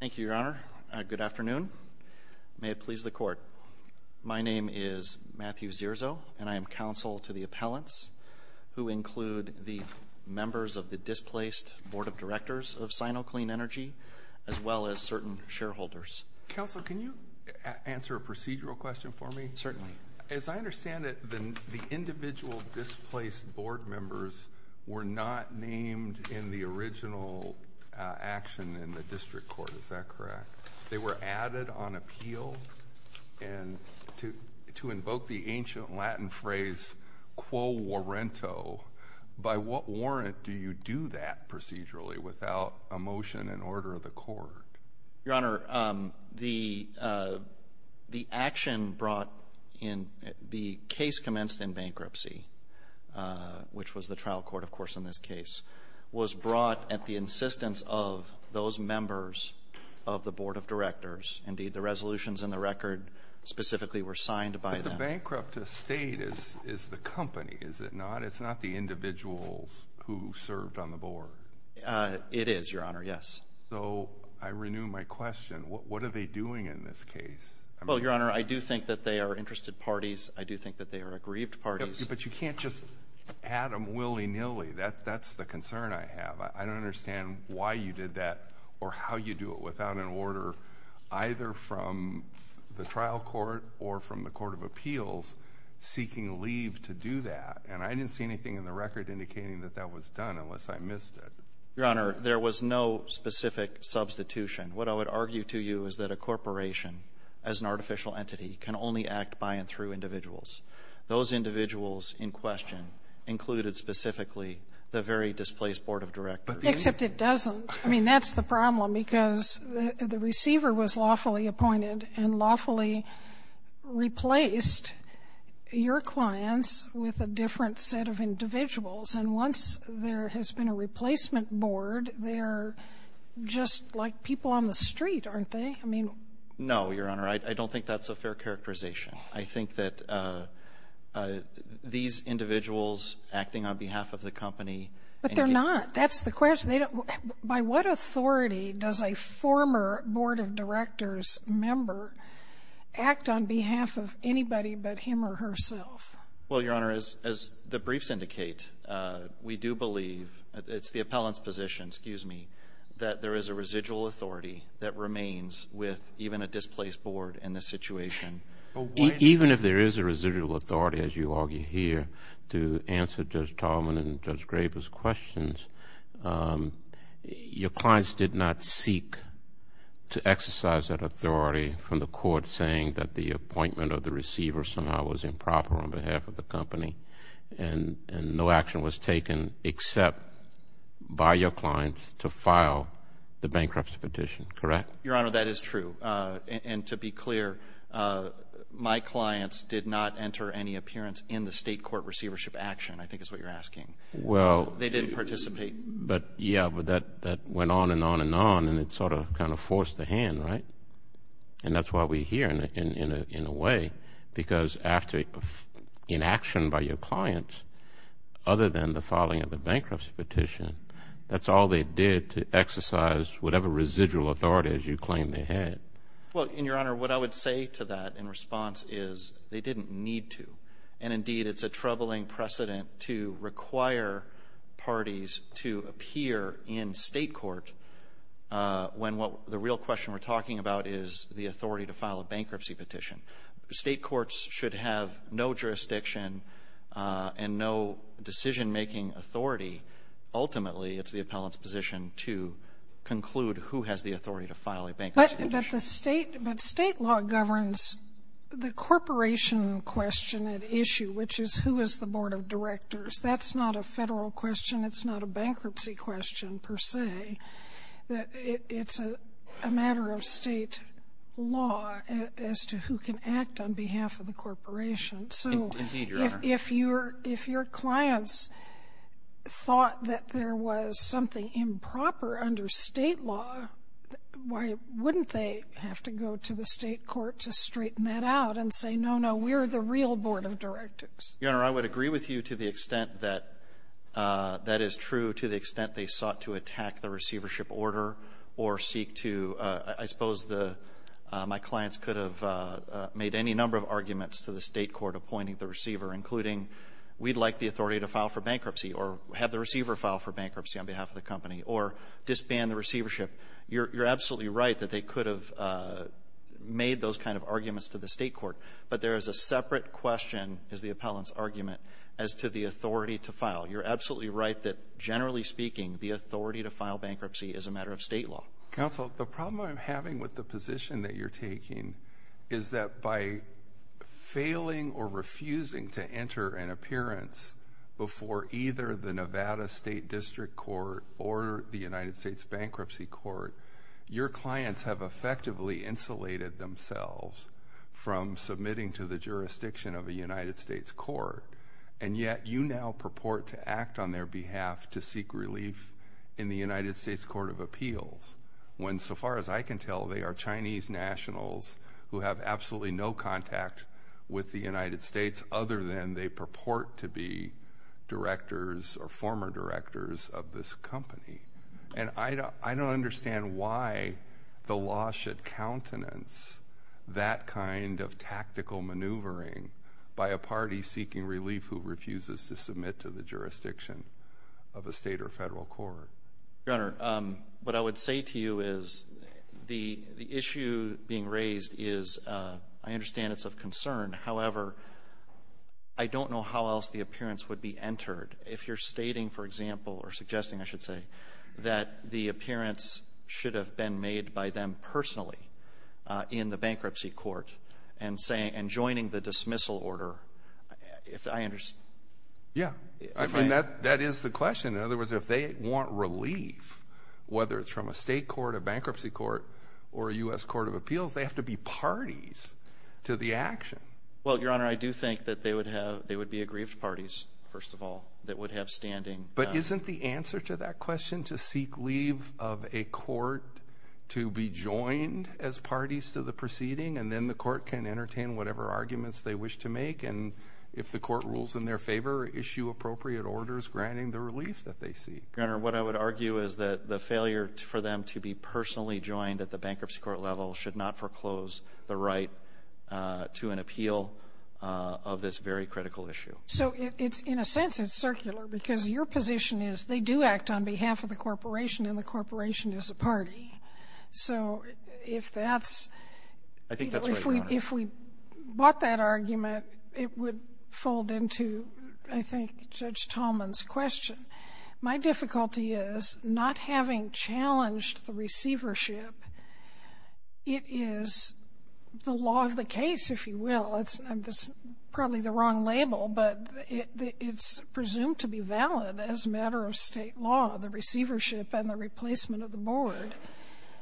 Thank you, Your Honor. Good afternoon. May it please the Court. My name is Matthew Zirzo, and I am counsel to the appellants who include the members of the displaced Board of Directors of Sino Clean Energy, as well as certain shareholders. Counsel, can you answer a procedural question for me? Certainly. As I understand it, the individual displaced board members were not named in the original action in the district court. Is that correct? They were added on appeal, and to invoke the ancient Latin phrase, quo warrento, by what warrant do you do that procedurally without a motion in order of the court? Your Honor, the action brought in the case commenced in September of 2016. The action was brought at the insistence of those members of the Board of Directors. Indeed, the resolutions in the record specifically were signed by them. But the bankrupt estate is the company, is it not? It's not the individuals who served on the board. It is, Your Honor, yes. So I renew my question. What are they doing in this case? Well, Your Honor, I do think that they are interested parties. I do think that they are aggrieved parties. But you can't just add them willy-nilly. That's the concern I have. I don't understand why you did that or how you do it without an order either from the trial court or from the Court of Appeals seeking leave to do that. And I didn't see anything in the record indicating that that was done unless I missed it. Your Honor, there was no specific substitution. What I would argue to you is that a corporation, as an artificial entity, can only act by and through individuals. Those individuals in question included specifically the very displaced Board of Directors. Except it doesn't. I mean, that's the problem because the receiver was lawfully appointed and lawfully replaced your clients with a different set of individuals. And once there has been a replacement board, they're just like people on the street, aren't they? No, Your Honor, I don't think that's a fair characterization. I think that these individuals acting on behalf of the company... But they're not. That's the question. By what authority does a former Board of Directors member act on behalf of anybody but him or herself? Well, Your Honor, as the briefs indicate, we do believe, it's the appellant's position, excuse me, that there is a residual authority that Even if there is a residual authority, as you argue here, to answer Judge Tallman and Judge Graber's questions, your clients did not seek to exercise that authority from the court saying that the appointment of the receiver somehow was improper on behalf of the company and no action was taken except by your clients to file the bankruptcy petition, correct? Your Honor, that is true. And to be clear, my clients did not enter any appearance in the state court receivership action, I think is what you're asking. They didn't participate. Yeah, but that went on and on and on, and it sort of kind of forced a hand, right? And that's why we're here in a way, because in action by your clients, other than the filing of the bankruptcy petition, that's all they did, to exercise whatever residual authority, as you claim, they had. Well, and Your Honor, what I would say to that in response is they didn't need to. And indeed, it's a troubling precedent to require parties to appear in state court when what the real question we're talking about is the authority to file a bankruptcy petition. State courts should have no jurisdiction and no decision-making authority. Ultimately, it's the appellant's position to conclude who has the authority to file a bankruptcy petition. But state law governs the corporation question at issue, which is who is the Board of Directors. That's not a federal question. It's not a bankruptcy question, per se. It's a matter of state law as to who can act on behalf of the corporation. Indeed, Your Honor. So if your clients thought that there was something improper under state law, why wouldn't they have to go to the state court to straighten that out and say, no, no, we're the real Board of Directors? Your Honor, I would agree with you to the extent that that is true, to the extent they sought to attack the receivership order or seek to, I suppose, my clients could have made any number of arguments to the state court appointing the receiver, including, we'd like the authority to file for bankruptcy or have the receiver file for bankruptcy on behalf of the company or disband the receivership. You're absolutely right that they could have made those kind of arguments to the state court. But there is a separate question, is the appellant's argument, as to the authority to file. You're absolutely right that, generally speaking, the authority to file bankruptcy is a matter of state law. Counsel, the problem I'm having with the position that you're taking is that by filing without a state district court or the United States Bankruptcy Court, your clients have effectively insulated themselves from submitting to the jurisdiction of a United States court, and yet you now purport to act on their behalf to seek relief in the United States Court of Appeals, when, so far as I can tell, they are Chinese nationals who have absolutely no contact with the board directors of this company. And I don't understand why the law should countenance that kind of tactical maneuvering by a party seeking relief who refuses to submit to the jurisdiction of a state or federal court. Your Honor, what I would say to you is, the issue being raised is, I understand it's of concern, however, I don't know how else the appearance would be entered. If you're stating, for example, or suggesting, I should say, that the appearance should have been made by them personally in the bankruptcy court and saying, and joining the dismissal order, if I understand. Yeah, I mean, that is the question. In other words, if they want relief, whether it's from a state court, a bankruptcy court, or a U.S. Court of Appeals, they have to be parties to the action. Well, Your Honor, I do think that they would have, they would be aggrieved parties, first of all, that would have standing. But isn't the answer to that question to seek leave of a court to be joined as parties to the proceeding, and then the court can entertain whatever arguments they wish to make, and if the court rules in their favor, issue appropriate orders granting the relief that they seek? Your Honor, what I would argue is that the failure for them to be personally joined at the bankruptcy court level should not foreclose the appeal of this very critical issue. So it's, in a sense, it's circular, because your position is they do act on behalf of the corporation, and the corporation is a party. So if that's, if we bought that argument, it would fold into, I think, Judge Tallman's question. My difficulty is, not having challenged the Well, it's probably the wrong label, but it's presumed to be valid as a matter of State law, the receivership and the replacement of the board.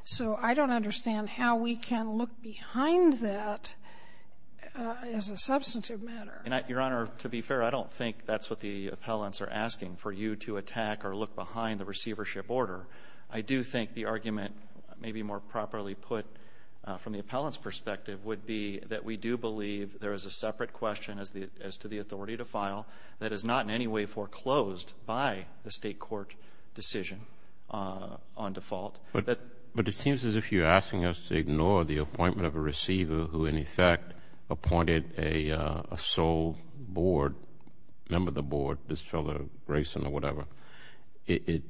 So I don't understand how we can look behind that as a substantive matter. Your Honor, to be fair, I don't think that's what the appellants are asking, for you to attack or look behind the receivership order. I do think the argument, maybe more properly put from the appellant's perspective, would be that we do believe there is a separate question as to the authority to file that is not in any way foreclosed by the State court decision on default. But it seems as if you're asking us to ignore the appointment of a receiver who, in effect, appointed a sole board, member of the board, this fellow Grayson or whatever. It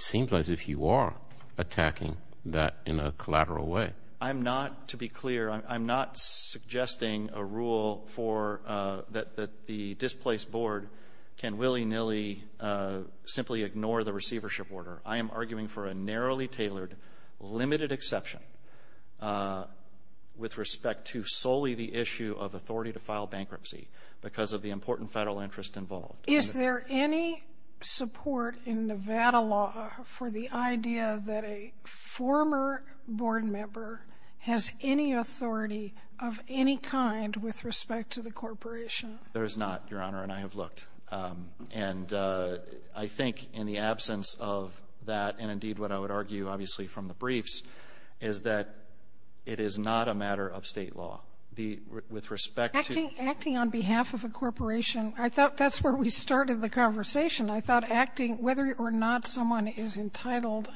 seems as if you are attacking that in a collateral way. I'm not, to be clear, I'm not suggesting a rule for that the displaced board can willy-nilly simply ignore the receivership order. I am arguing for a narrowly tailored, limited exception with respect to solely the issue of authority to file bankruptcy because of the important Federal interest involved. Is there any support in Nevada law for the idea that a former board member has any authority of any kind with respect to the corporation? There is not, Your Honor, and I have looked. And I think in the absence of that, and indeed what I would argue, obviously, from the briefs, is that it is not a matter of State law. With respect to... I thought that's where we started the conversation. I thought acting, whether or not someone is entitled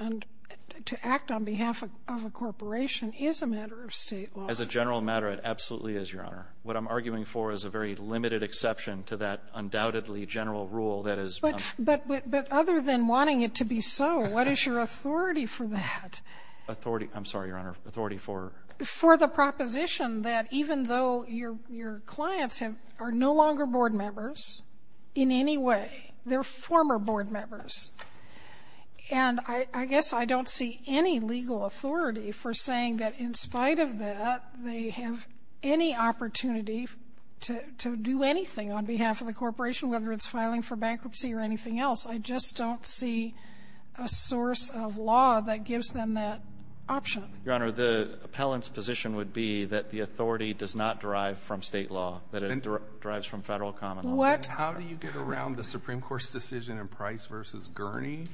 to act on behalf of a corporation, is a matter of State law. As a general matter, it absolutely is, Your Honor. What I'm arguing for is a very limited exception to that undoubtedly general rule that is... But other than wanting it to be so, what is your authority for that? Authority, I'm sorry, Your Honor, authority for... For the proposition that even though your clients are no longer board members in any way, they're former board members. And I guess I don't see any legal authority for saying that in spite of that, they have any opportunity to do anything on behalf of the corporation, whether it's filing for bankruptcy or anything else. I just don't see a source of law that gives them that option. Your Honor, the appellant's position would be that the authority does not derive from State law, that it derives from Federal common law. What? How do you get around the Supreme Court's decision in Price versus Gurney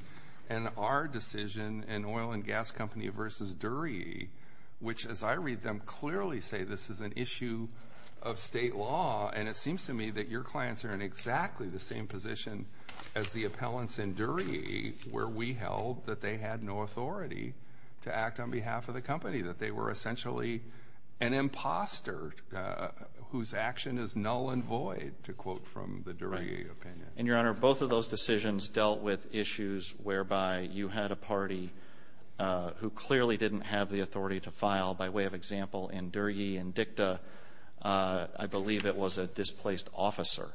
and our decision in Oil and Gas Company versus Dury, which, as I read them, clearly say this is an issue of State law. And it seems to me that your clients are in exactly the same position as the appellants in Dury, where we held that they had no authority to act on behalf of the company, that they were essentially an imposter, whose action is null and void, to quote from the Dury opinion. And, Your Honor, both of those decisions dealt with issues whereby you had a party who clearly didn't have the authority to file. By way of example, in Dury and Dicta, I believe it was a displaced officer.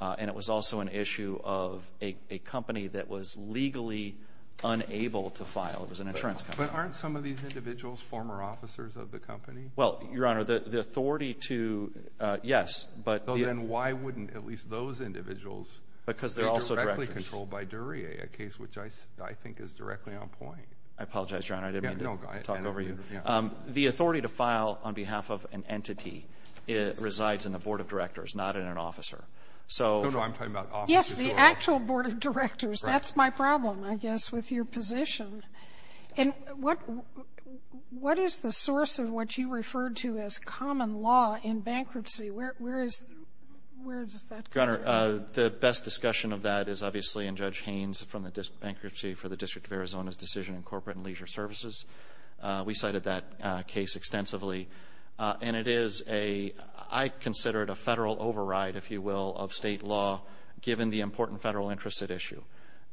And it was also an insurance company that was legally unable to file. It was an insurance company. But aren't some of these individuals former officers of the company? Well, Your Honor, the authority to, yes, but... So then why wouldn't at least those individuals... Because they're also directors. ...be directly controlled by Dury, a case which I think is directly on point. I apologize, Your Honor, I didn't mean to talk over you. The authority to file on behalf of an entity resides in the Board of Directors, not in an officer. So... No, no, I'm talking about officers. Yes, the actual Board of Directors. That's my problem, I guess, with your position. And what is the source of what you referred to as common law in bankruptcy? Where is, where does that come from? Your Honor, the best discussion of that is obviously in Judge Haynes from the Bankruptcy for the District of Arizona's decision in Corporate and Leisure Services. We cited that case extensively. And it is a, I consider it a Federal override, if you will, of state law given the important Federal interest at issue.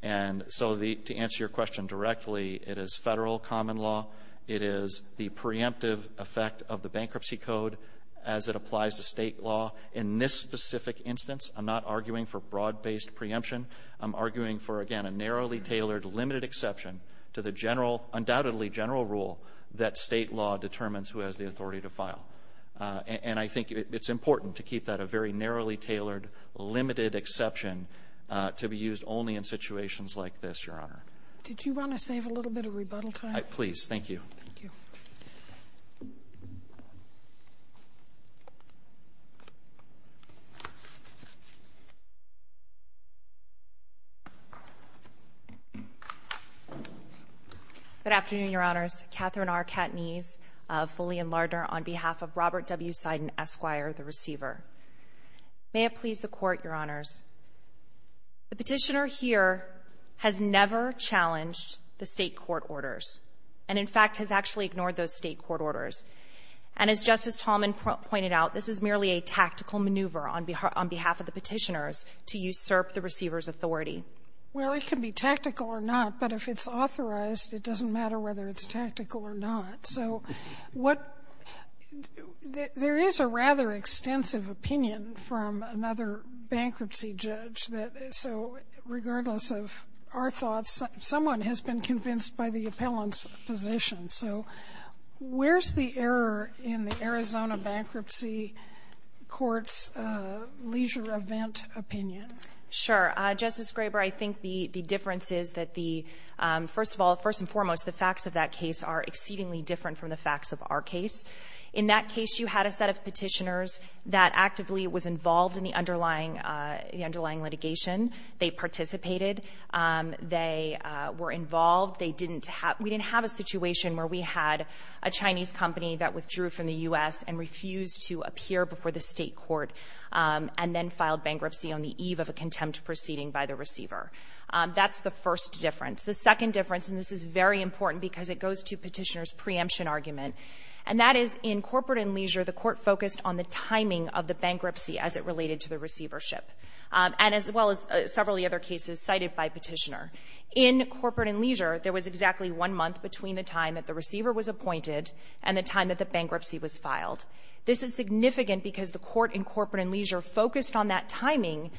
And so the, to answer your question directly, it is Federal common law. It is the preemptive effect of the bankruptcy code as it applies to state law. In this specific instance, I'm not arguing for broad-based preemption. I'm arguing for, again, a narrowly tailored limited exception to the general, undoubtedly general rule that state law determines who has the authority to file. And I think it's important to keep that a very narrowly tailored limited exception to be used only in situations like this, Your Honor. Did you want to save a little bit of rebuttal time? Please, thank you. Thank you. Good afternoon, Your Honors. Katherine R. Katniss, fully in Lardner on behalf of Robert W. Seiden, Esquire, the receiver. May it please the Court, Your Honors, the Petitioner here has never challenged the State court orders, and in fact, has actually ignored those State court orders. And as Justice Talmadge pointed out, this is merely a tactical maneuver on behalf of the Petitioners to usurp the receiver's authority. Well, it can be tactical or not, but if it's authorized, it doesn't matter whether it's tactical or not. So what — there is a rather extensive opinion from another bankruptcy judge that — so regardless of our thoughts, someone has been convinced by the appellant's position. So where's the error in the Arizona Bankruptcy Court's leisure event opinion? Sure. Justice Graber, I think the difference is that the — first of all, first and foremost, the facts of that case are exceedingly different from the facts of our case. In that case, you had a set of Petitioners that actively was involved in the underlying litigation. They participated. They were involved. They didn't — we didn't have a situation where we had a Chinese company that withdrew from the U.S. and refused to appear before the State court, and then filed bankruptcy on the eve of a contempt proceeding by the receiver. That's the first difference. The second difference, and this is very important because it goes to Petitioner's preemption argument, and that is in corporate and leisure, the Court focused on the timing of the bankruptcy as it related to the receivership, and as well as several of the other cases cited by Petitioner. In corporate and leisure, there was exactly one month between the time that the receiver was appointed and the time that the bankruptcy was filed. This is significant because the Court in corporate and leisure focused on that timing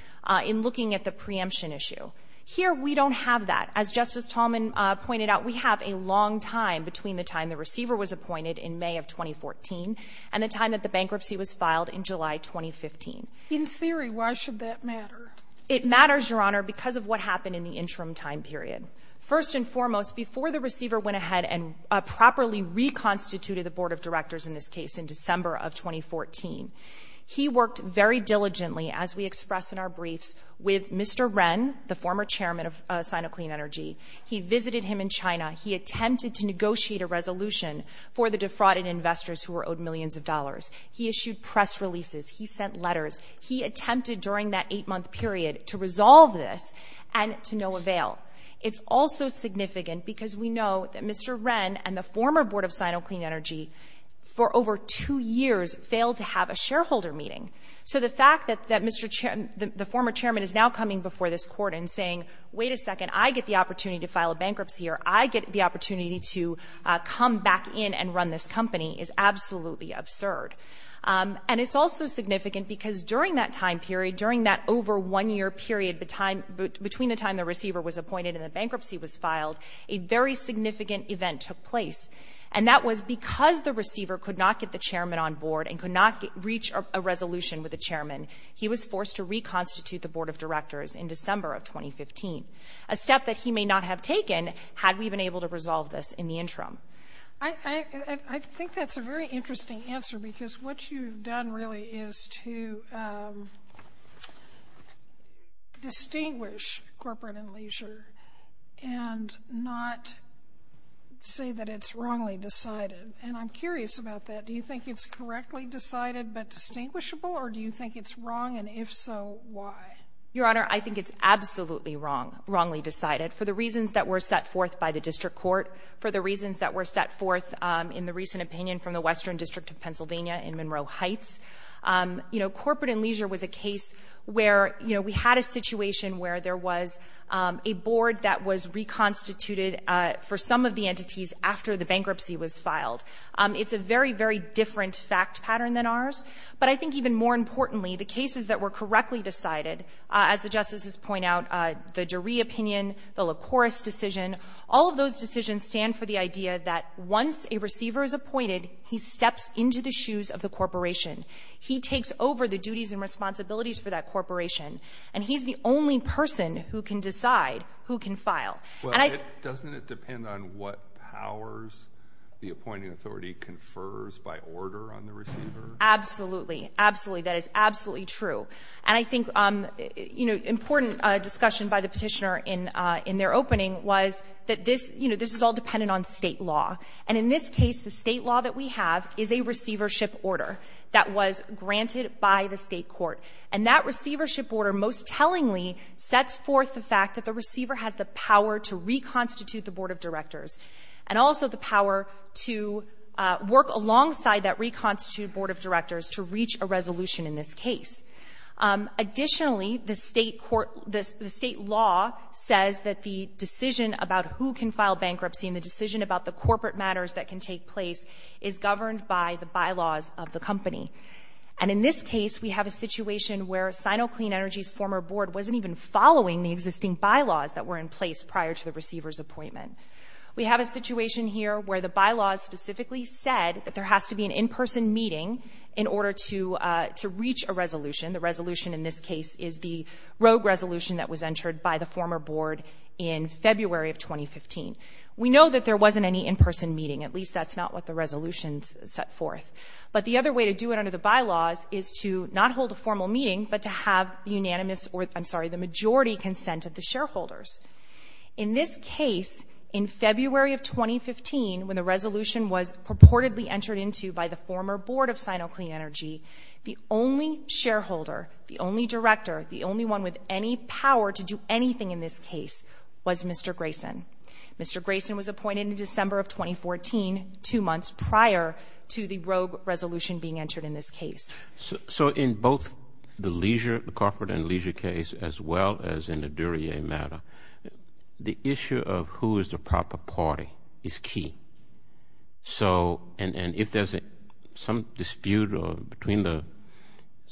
in looking at the preemption issue. Here, we don't have that. As Justice Tallman pointed out, we have a long time between the time the receiver was appointed in May of 2014 and the time that the bankruptcy was filed in July 2015. In theory, why should that matter? It matters, Your Honor, because of what happened in the interim time period. First and foremost, before the receiver went ahead and properly reconstituted the Board of Directors in this case in December of 2014, he worked very diligently, as we express in our briefs, with Mr. Ren, the former chairman of Sinoclean Energy. He visited him in China. He attempted to negotiate a resolution for the defrauded investors who were owed millions of dollars. He issued press releases. He sent letters. He attempted during that eight-month period to resolve this and to no avail. It's also significant because we know that Mr. Ren and the former Board of Sinoclean Energy for over two years failed to have a shareholder meeting. So the fact that Mr. The former chairman is now coming before this Court and saying, wait a second, I get the opportunity to file a bankruptcy or I get the opportunity to come back in and run this company is absolutely absurd. And it's also significant because during that time period, during that over one-year period between the time the receiver was appointed and the bankruptcy was filed, a very significant event took place. And that was because the receiver could not get the chairman on board and could not reach a resolution with the chairman. He was forced to reconstitute the Board of Directors in December of 2015, a step that he may not have taken had we been able to resolve this in the interim. I think that's a very interesting answer because what you've done really is to distinguish corporate and leisure and not say that it's wrongly decided. And I'm curious about that. Do you think it's correctly decided but distinguishable, or do you think it's wrong, and if so, why? Your Honor, I think it's absolutely wrong, wrongly decided, for the reasons that were set forth by the district court, for the reasons that were set forth in the recent opinion from the Western District of Pennsylvania in Monroe Heights. You know, corporate and leisure was a case where, you know, we had a situation where there was a board that was reconstituted for some of the entities after the bankruptcy was filed. It's a very, very different fact pattern than ours. But I think even more importantly, the cases that were correctly decided, as the Justices point out, the Dury opinion, the LaCouris decision, all of those decisions stand for the idea that once a receiver is appointed, he steps into the shoes of the corporation. He takes over the duties and responsibilities for that corporation, and he's the only person who can decide who can file. Well, doesn't it depend on what powers the appointing authority confers by order on the receiver? Absolutely. Absolutely. That is absolutely true. And I think, you know, important discussion by the petitioner in their opening was that this, you know, this is all dependent on state law. And in this case, the state law that we have is a receivership order that was granted by the state court. And that receivership order, most tellingly, sets forth the fact that the receiver has the power to reconstitute the Board of Directors, and also the power to work alongside that reconstituted Board of Directors to reach a resolution in this case. Additionally, the state court, the state law says that the decision about who can file bankruptcy and the decision about the corporate matters that can take place is governed by the bylaws of the company. And in this case, we have a situation where Sino Clean Energy's former board wasn't even following the existing bylaws that were in place prior to the receiver's appointment. We have a situation here where the bylaws specifically said that there has to be an in-person meeting in order to reach a resolution. The resolution in this case is the rogue resolution that was entered by the former board in February of 2015. We know that there wasn't any in-person meeting. At least that's not what the resolution set forth. But the other way to do it under the bylaws is to not hold a formal meeting, but to have the unanimous or, I'm sorry, the majority consent of the shareholders. In this case, in February of 2015, when the resolution was purportedly entered into by the former board of Sino Clean Energy, the only shareholder, the only director, the only one with any power to do anything in this case was Mr. Grayson. Mr. Grayson was appointed in December of 2014, two months prior to the rogue resolution being entered in this case. So in both the Leisure, the corporate and Leisure case, as well as in the Duryea matter, the issue of who is the proper party is key. So, and if there's some dispute between the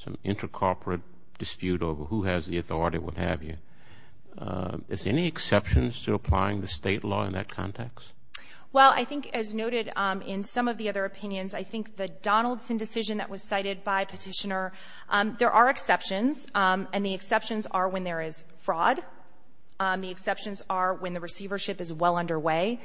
some inter-corporate dispute over who has the authority, what have you, is there any exceptions to applying the state law in that context? Well, I think as noted in some of the other opinions, I think the Donaldson decision that was cited by Petitioner, there are exceptions. And the exceptions are when there is fraud. The exceptions are when the receivership is well underway.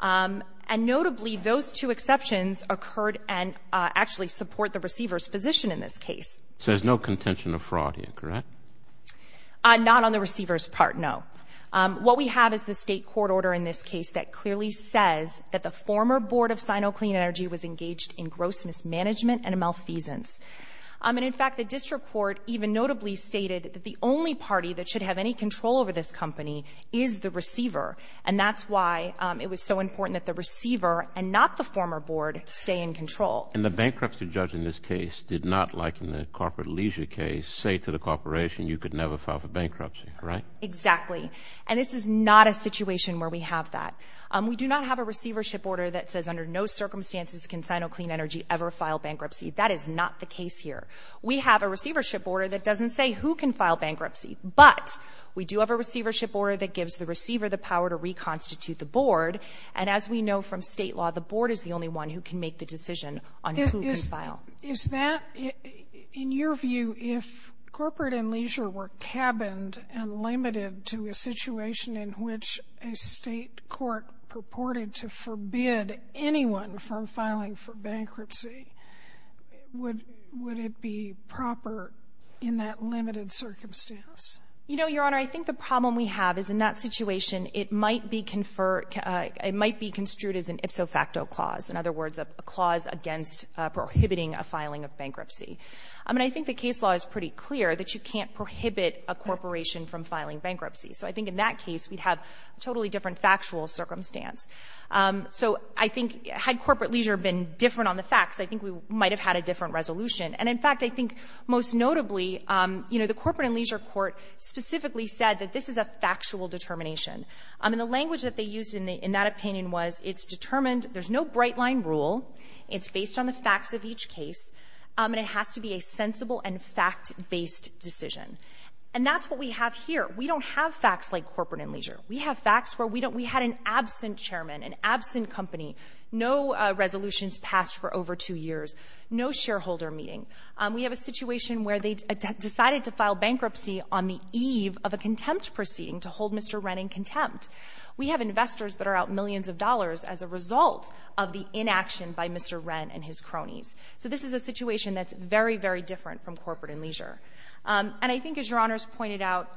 And notably, those two exceptions occurred and actually support the receiver's position in this case. So there's no contention of fraud here, correct? Not on the receiver's part, no. What we have is the state court order in this case that clearly says that the former board of Sino Clean Energy was engaged in gross mismanagement and a malfeasance. And in fact, the district court even notably stated that the only party that should have any control over this company is the receiver. And that's why it was so important that the receiver, and not the former board, stay in control. And the bankruptcy judge in this case did not, like in the corporate Leisure case, say to the corporation, you could never file for bankruptcy, right? Exactly. And this is not a situation where we have that. We do not have a receivership order that says under no circumstances can Sino Clean Energy ever file bankruptcy. That is not the case here. We have a receivership order that doesn't say who can file bankruptcy. But we do have a receivership order that gives the receiver the power to reconstitute the board. And as we know from state law, the board is the only one who can make the decision on who can file. Is that, in your view, if corporate and Leisure were cabined and limited to a situation in which a state court purported to forbid anyone from filing for bankruptcy, would it be proper in that limited circumstance? You know, Your Honor, I think the problem we have is in that situation, it might be conferred — it might be construed as an ipso facto clause, in other words, a clause against prohibiting a filing of bankruptcy. I mean, I think the case law is pretty clear that you can't prohibit a corporation from filing bankruptcy. So I think in that case we'd have a totally different factual circumstance. So I think had corporate Leisure been different on the facts, I think we might have had a different resolution. And in fact, I think most notably, you know, the Corporate and Leisure Court specifically said that this is a factual determination. I mean, the language that they used in that opinion was it's determined — there's no bright-line rule. It's based on the facts of each case. And it has to be a sensible and fact-based decision. And that's what we have here. We don't have facts like Corporate and Leisure. We have facts where we don't — we had an absent chairman, an absent company, no resolutions passed for over two years, no shareholder meeting. We have a situation where they decided to file bankruptcy on the eve of a contempt proceeding to hold Mr. Wren in contempt. We have investors that are out millions of dollars as a result of the inaction by Mr. Wren and his cronies. So this is a situation that's very, very different from Corporate and Leisure. And I think, as Your Honors pointed out,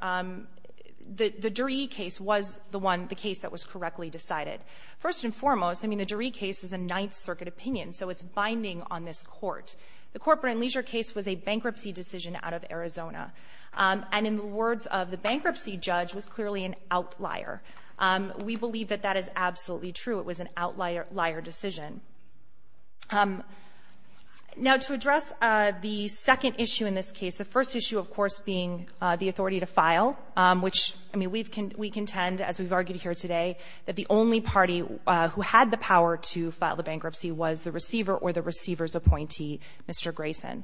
the Duree case was the one — the case that was correctly decided. First and foremost, I mean, the Duree case is a Ninth Circuit opinion, so it's binding on this Court. The Corporate and Leisure case was a bankruptcy decision out of Arizona. And in the words of the bankruptcy judge, was clearly an outlier. We believe that that is absolutely true. It was an outlier — liar decision. Now, to address the second issue in this case, the first issue, of course, being the authority to file, which, I mean, we contend, as we've argued here today, that the only party who had the power to file the bankruptcy was the receiver or the receiver's appointee, Mr. Grayson.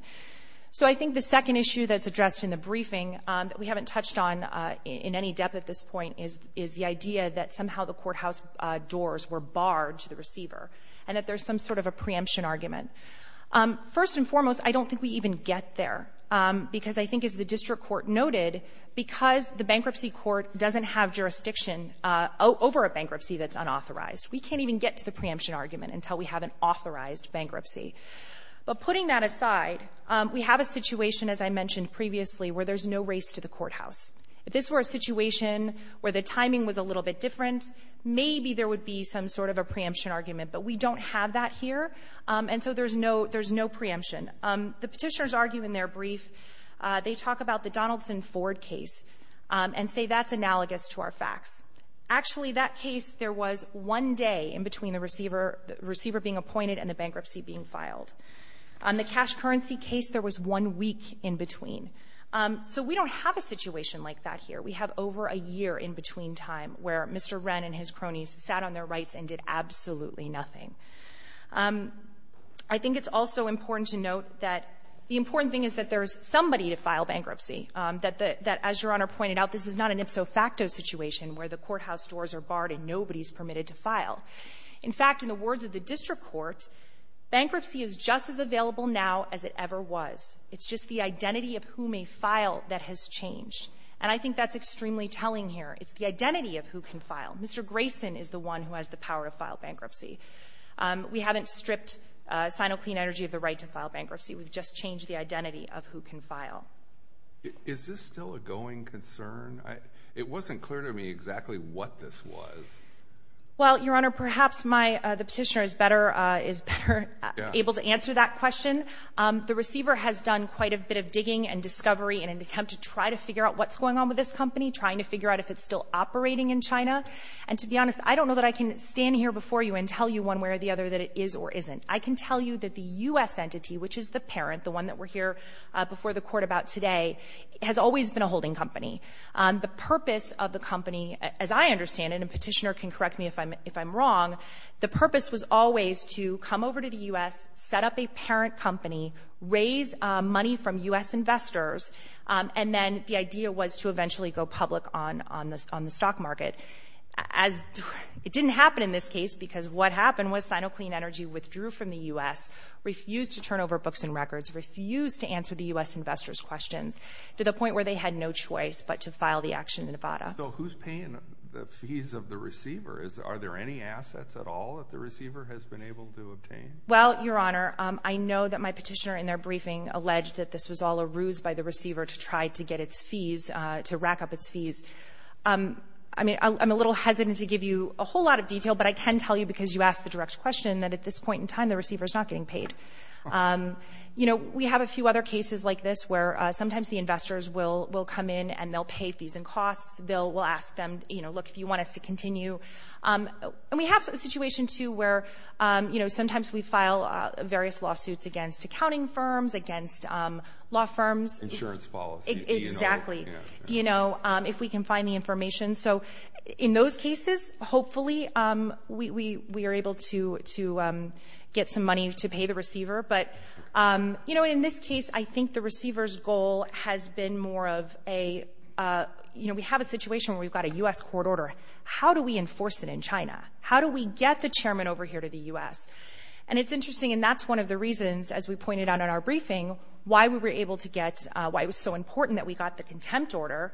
So I think the second issue that's addressed in the briefing that we haven't touched on in any depth at this point is the idea that somehow the courthouse doors were barred to the receiver, and that there's some sort of a preemption argument. First and foremost, I don't think we even get there, because I think, as the district court noted, because the bankruptcy court doesn't have jurisdiction over a bankruptcy that's unauthorized, we can't even get to the preemption argument until we have an authorized bankruptcy. But putting that aside, we have a situation, as I mentioned previously, where there's no race to the courthouse. If this were a situation where the timing was a little bit different, maybe there would be some sort of a preemption argument, but we don't have that here, and so there's no preemption. The petitioners argue in their brief, they talk about the Donaldson-Ford case and say that's analogous to our facts. Actually, that case, there was one day in between the receiver being appointed and the bankruptcy being filed. The cash currency case, there was one week in between. So we don't have a situation like that here. We have over a year in between time where Mr. Wren and his cronies sat on their rights and did absolutely nothing. I think it's also important to note that the important thing is that there's somebody to file bankruptcy, that the — that, as Your Honor pointed out, this is not an ipso facto situation where the courthouse doors are barred and nobody's permitted to file. In fact, in the words of the district court, bankruptcy is just as available now as it ever was. It's just the identity of who may file that has changed. And I think that's extremely telling here. It's the identity of who can file. Mr. Grayson is the one who has the power to file bankruptcy. We haven't stripped Sino Clean Energy of the right to file bankruptcy. We've just changed the identity of who can file. Is this still a going concern? It wasn't clear to me exactly what this was. Well, Your Honor, perhaps my — the petitioner is better — is better able to answer that question. The receiver has done quite a bit of digging and discovery in an attempt to try to figure out what's going on with this company, trying to figure out if it's still operating in China. And to be honest, I don't know that I can stand here before you and tell you one way or the other that it is or isn't. I can tell you that the U.S. entity, which is the parent, the one that we're here before the Court about today, has always been a holding company. The purpose of the company, as I understand it — and the petitioner can correct me if I'm — if I'm wrong — the purpose was always to come over to the U.S., set up a parent company, raise money from U.S. investors, and then the idea was to eventually go public on — on the — on the stock market. As — it didn't happen in this case, because what happened was Sino Clean Energy withdrew from the U.S., refused to turn over books and records, refused to answer the U.S. investors' questions, to the point where they had no choice but to file the action in Nevada. So who's paying the fees of the receiver? Is — are there any assets at all that the receiver has been able to obtain? Well, Your Honor, I know that my petitioner in their briefing alleged that this was all a ruse by the receiver to try to get its fees — to rack up its fees. I mean, I'm a little hesitant to give you a whole lot of detail, but I can tell you, because you asked the direct question, that at this point in time, the receiver is not getting paid. You know, we have a few other cases like this, where sometimes the investors will — will come in and they'll pay fees and costs. They'll — we'll ask them, you know, look, if you want us to continue. And we have a situation, too, where, you know, sometimes we file various lawsuits against accounting firms, against law firms. Insurance policy. Exactly. Do you know — Do you know if we can find the information? So in those cases, hopefully, we — we are able to — to get some money to pay the receiver. But, you know, in this case, I think the receiver's goal has been more of a — you know, we have a situation where we've got a U.S. court order. How do we enforce it in China? How do we get the chairman over here to the U.S.? And it's one of the reasons, as we pointed out in our briefing, why we were able to get — why it was so important that we got the contempt order,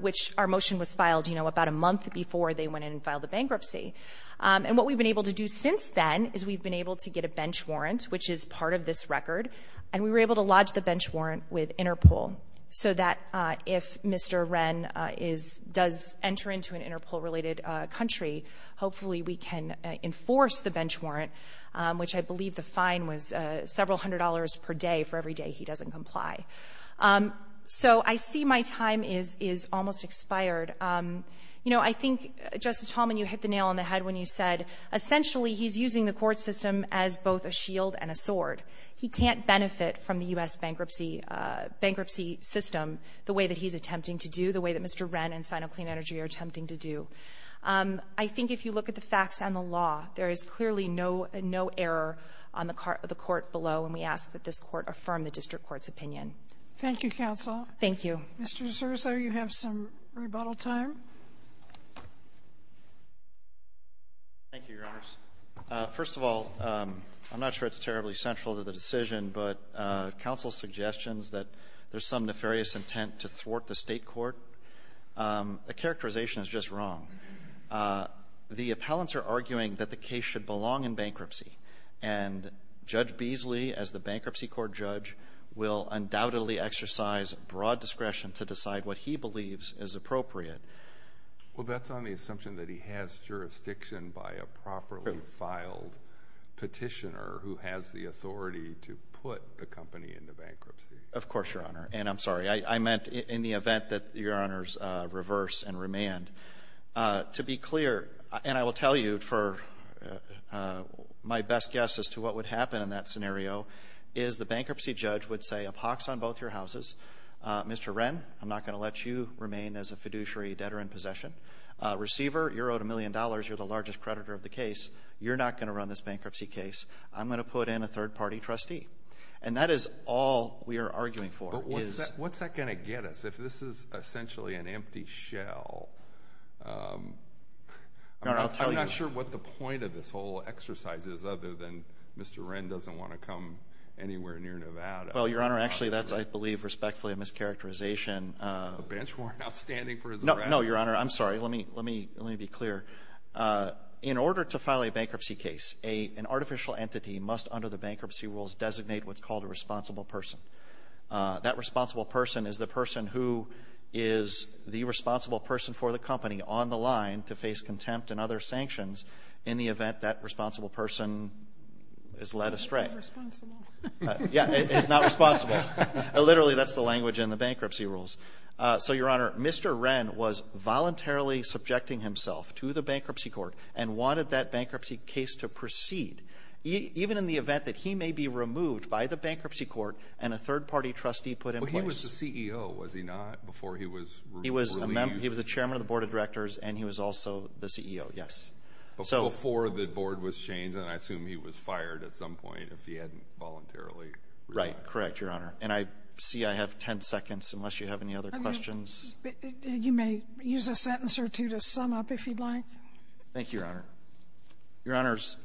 which our motion was filed, you know, about a month before they went in and filed the bankruptcy. And what we've been able to do since then is we've been able to get a bench warrant, which is part of this record. And we were able to lodge the bench warrant with Interpol so that if Mr. Ren is — does enter into an Interpol-related country, hopefully we can enforce the bench warrant, which I believe the fine was several hundred dollars per day for every day he doesn't comply. So I see my time is — is almost expired. You know, I think, Justice Talmadge, you hit the nail on the head when you said, essentially, he's using the court system as both a shield and a sword. He can't benefit from the U.S. bankruptcy — bankruptcy system the way that he's attempting to do, the way that Mr. Ren and Sino Clean Energy are attempting to do. I think if you look at the facts and the law, there is clearly no — no error on the court below, and we ask that this court affirm the district court's opinion. Thank you, counsel. Thank you. Mr. DeSouza, you have some rebuttal time. Thank you, Your Honors. First of all, I'm not sure it's terribly central to the decision, but counsel's suggestions that there's some nefarious intent to thwart the state court, a characterization is just wrong. The appellants are arguing that the case should belong in bankruptcy, and Judge Beasley, as the Bankruptcy Court judge, will undoubtedly exercise broad discretion to decide what he believes is appropriate. Well, that's on the assumption that he has jurisdiction by a properly filed petitioner who has the authority to put the company into bankruptcy. Of course, Your Honor, and I'm sorry, I meant in the event that Your Honors reverse and remand. To be clear, and I will tell you for my best guess as to what would happen in that scenario, is the bankruptcy judge would say, a pox on both your houses, Mr. Ren, I'm not going to let you remain as a fiduciary debtor in possession, receiver, you're owed a million dollars, you're the largest creditor of the case, you're not going to run this bankruptcy case, I'm going to put in a third party trustee. And that is all we are arguing for. What's that going to get us? If this is essentially an empty shell, I'm not sure what the point of this whole exercise is other than Mr. Ren doesn't want to come anywhere near Nevada. Well, Your Honor, actually, that's, I believe, respectfully a mischaracterization. A bench warrant outstanding for his arrest. No, Your Honor, I'm sorry, let me be clear. In order to file a bankruptcy case, an artificial entity must, under the bankruptcy rules, designate what's called a responsible person. That responsible person is the person who is the responsible person for the company on the line to face contempt and other sanctions in the event that responsible person is led astray. It's not responsible. Yeah, it's not responsible. Literally, that's the language in the bankruptcy rules. So, Your Honor, Mr. Ren was voluntarily subjecting himself to the bankruptcy court and wanted that bankruptcy case to proceed, even in the event that he may be removed by the bankruptcy court and a third-party trustee put in place. But he was the CEO, was he not, before he was released? He was a chairman of the board of directors and he was also the CEO, yes. Before the board was changed, and I assume he was fired at some point if he hadn't voluntarily resigned. Right, correct, Your Honor. And I see I have ten seconds, unless you have any other questions. You may use a sentence or two to sum up, if you'd like. Thank you, Your Honor. Your Honors,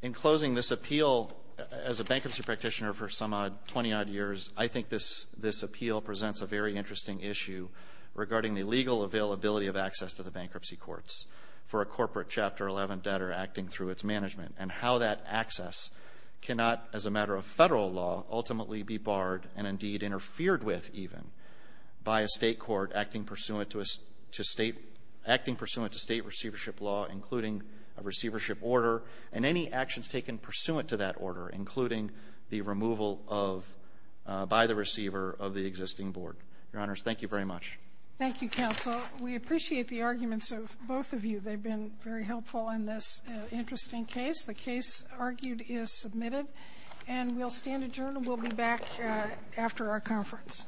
in closing this appeal, as a bankruptcy practitioner for some 20-odd years, I think this appeal presents a very interesting issue regarding the legal availability of access to the bankruptcy courts for a corporate Chapter 11 debtor acting through its management and how that access cannot, as a matter of federal law, ultimately be barred and indeed even by a state court acting pursuant to state receivership law, including a receivership order, and any actions taken pursuant to that order, including the removal of, by the receiver of the existing board. Your Honors, thank you very much. Thank you, Counsel. We appreciate the arguments of both of you. They've been very helpful in this interesting case. The case argued is submitted. And we'll stand adjourned and we'll be back after our conference.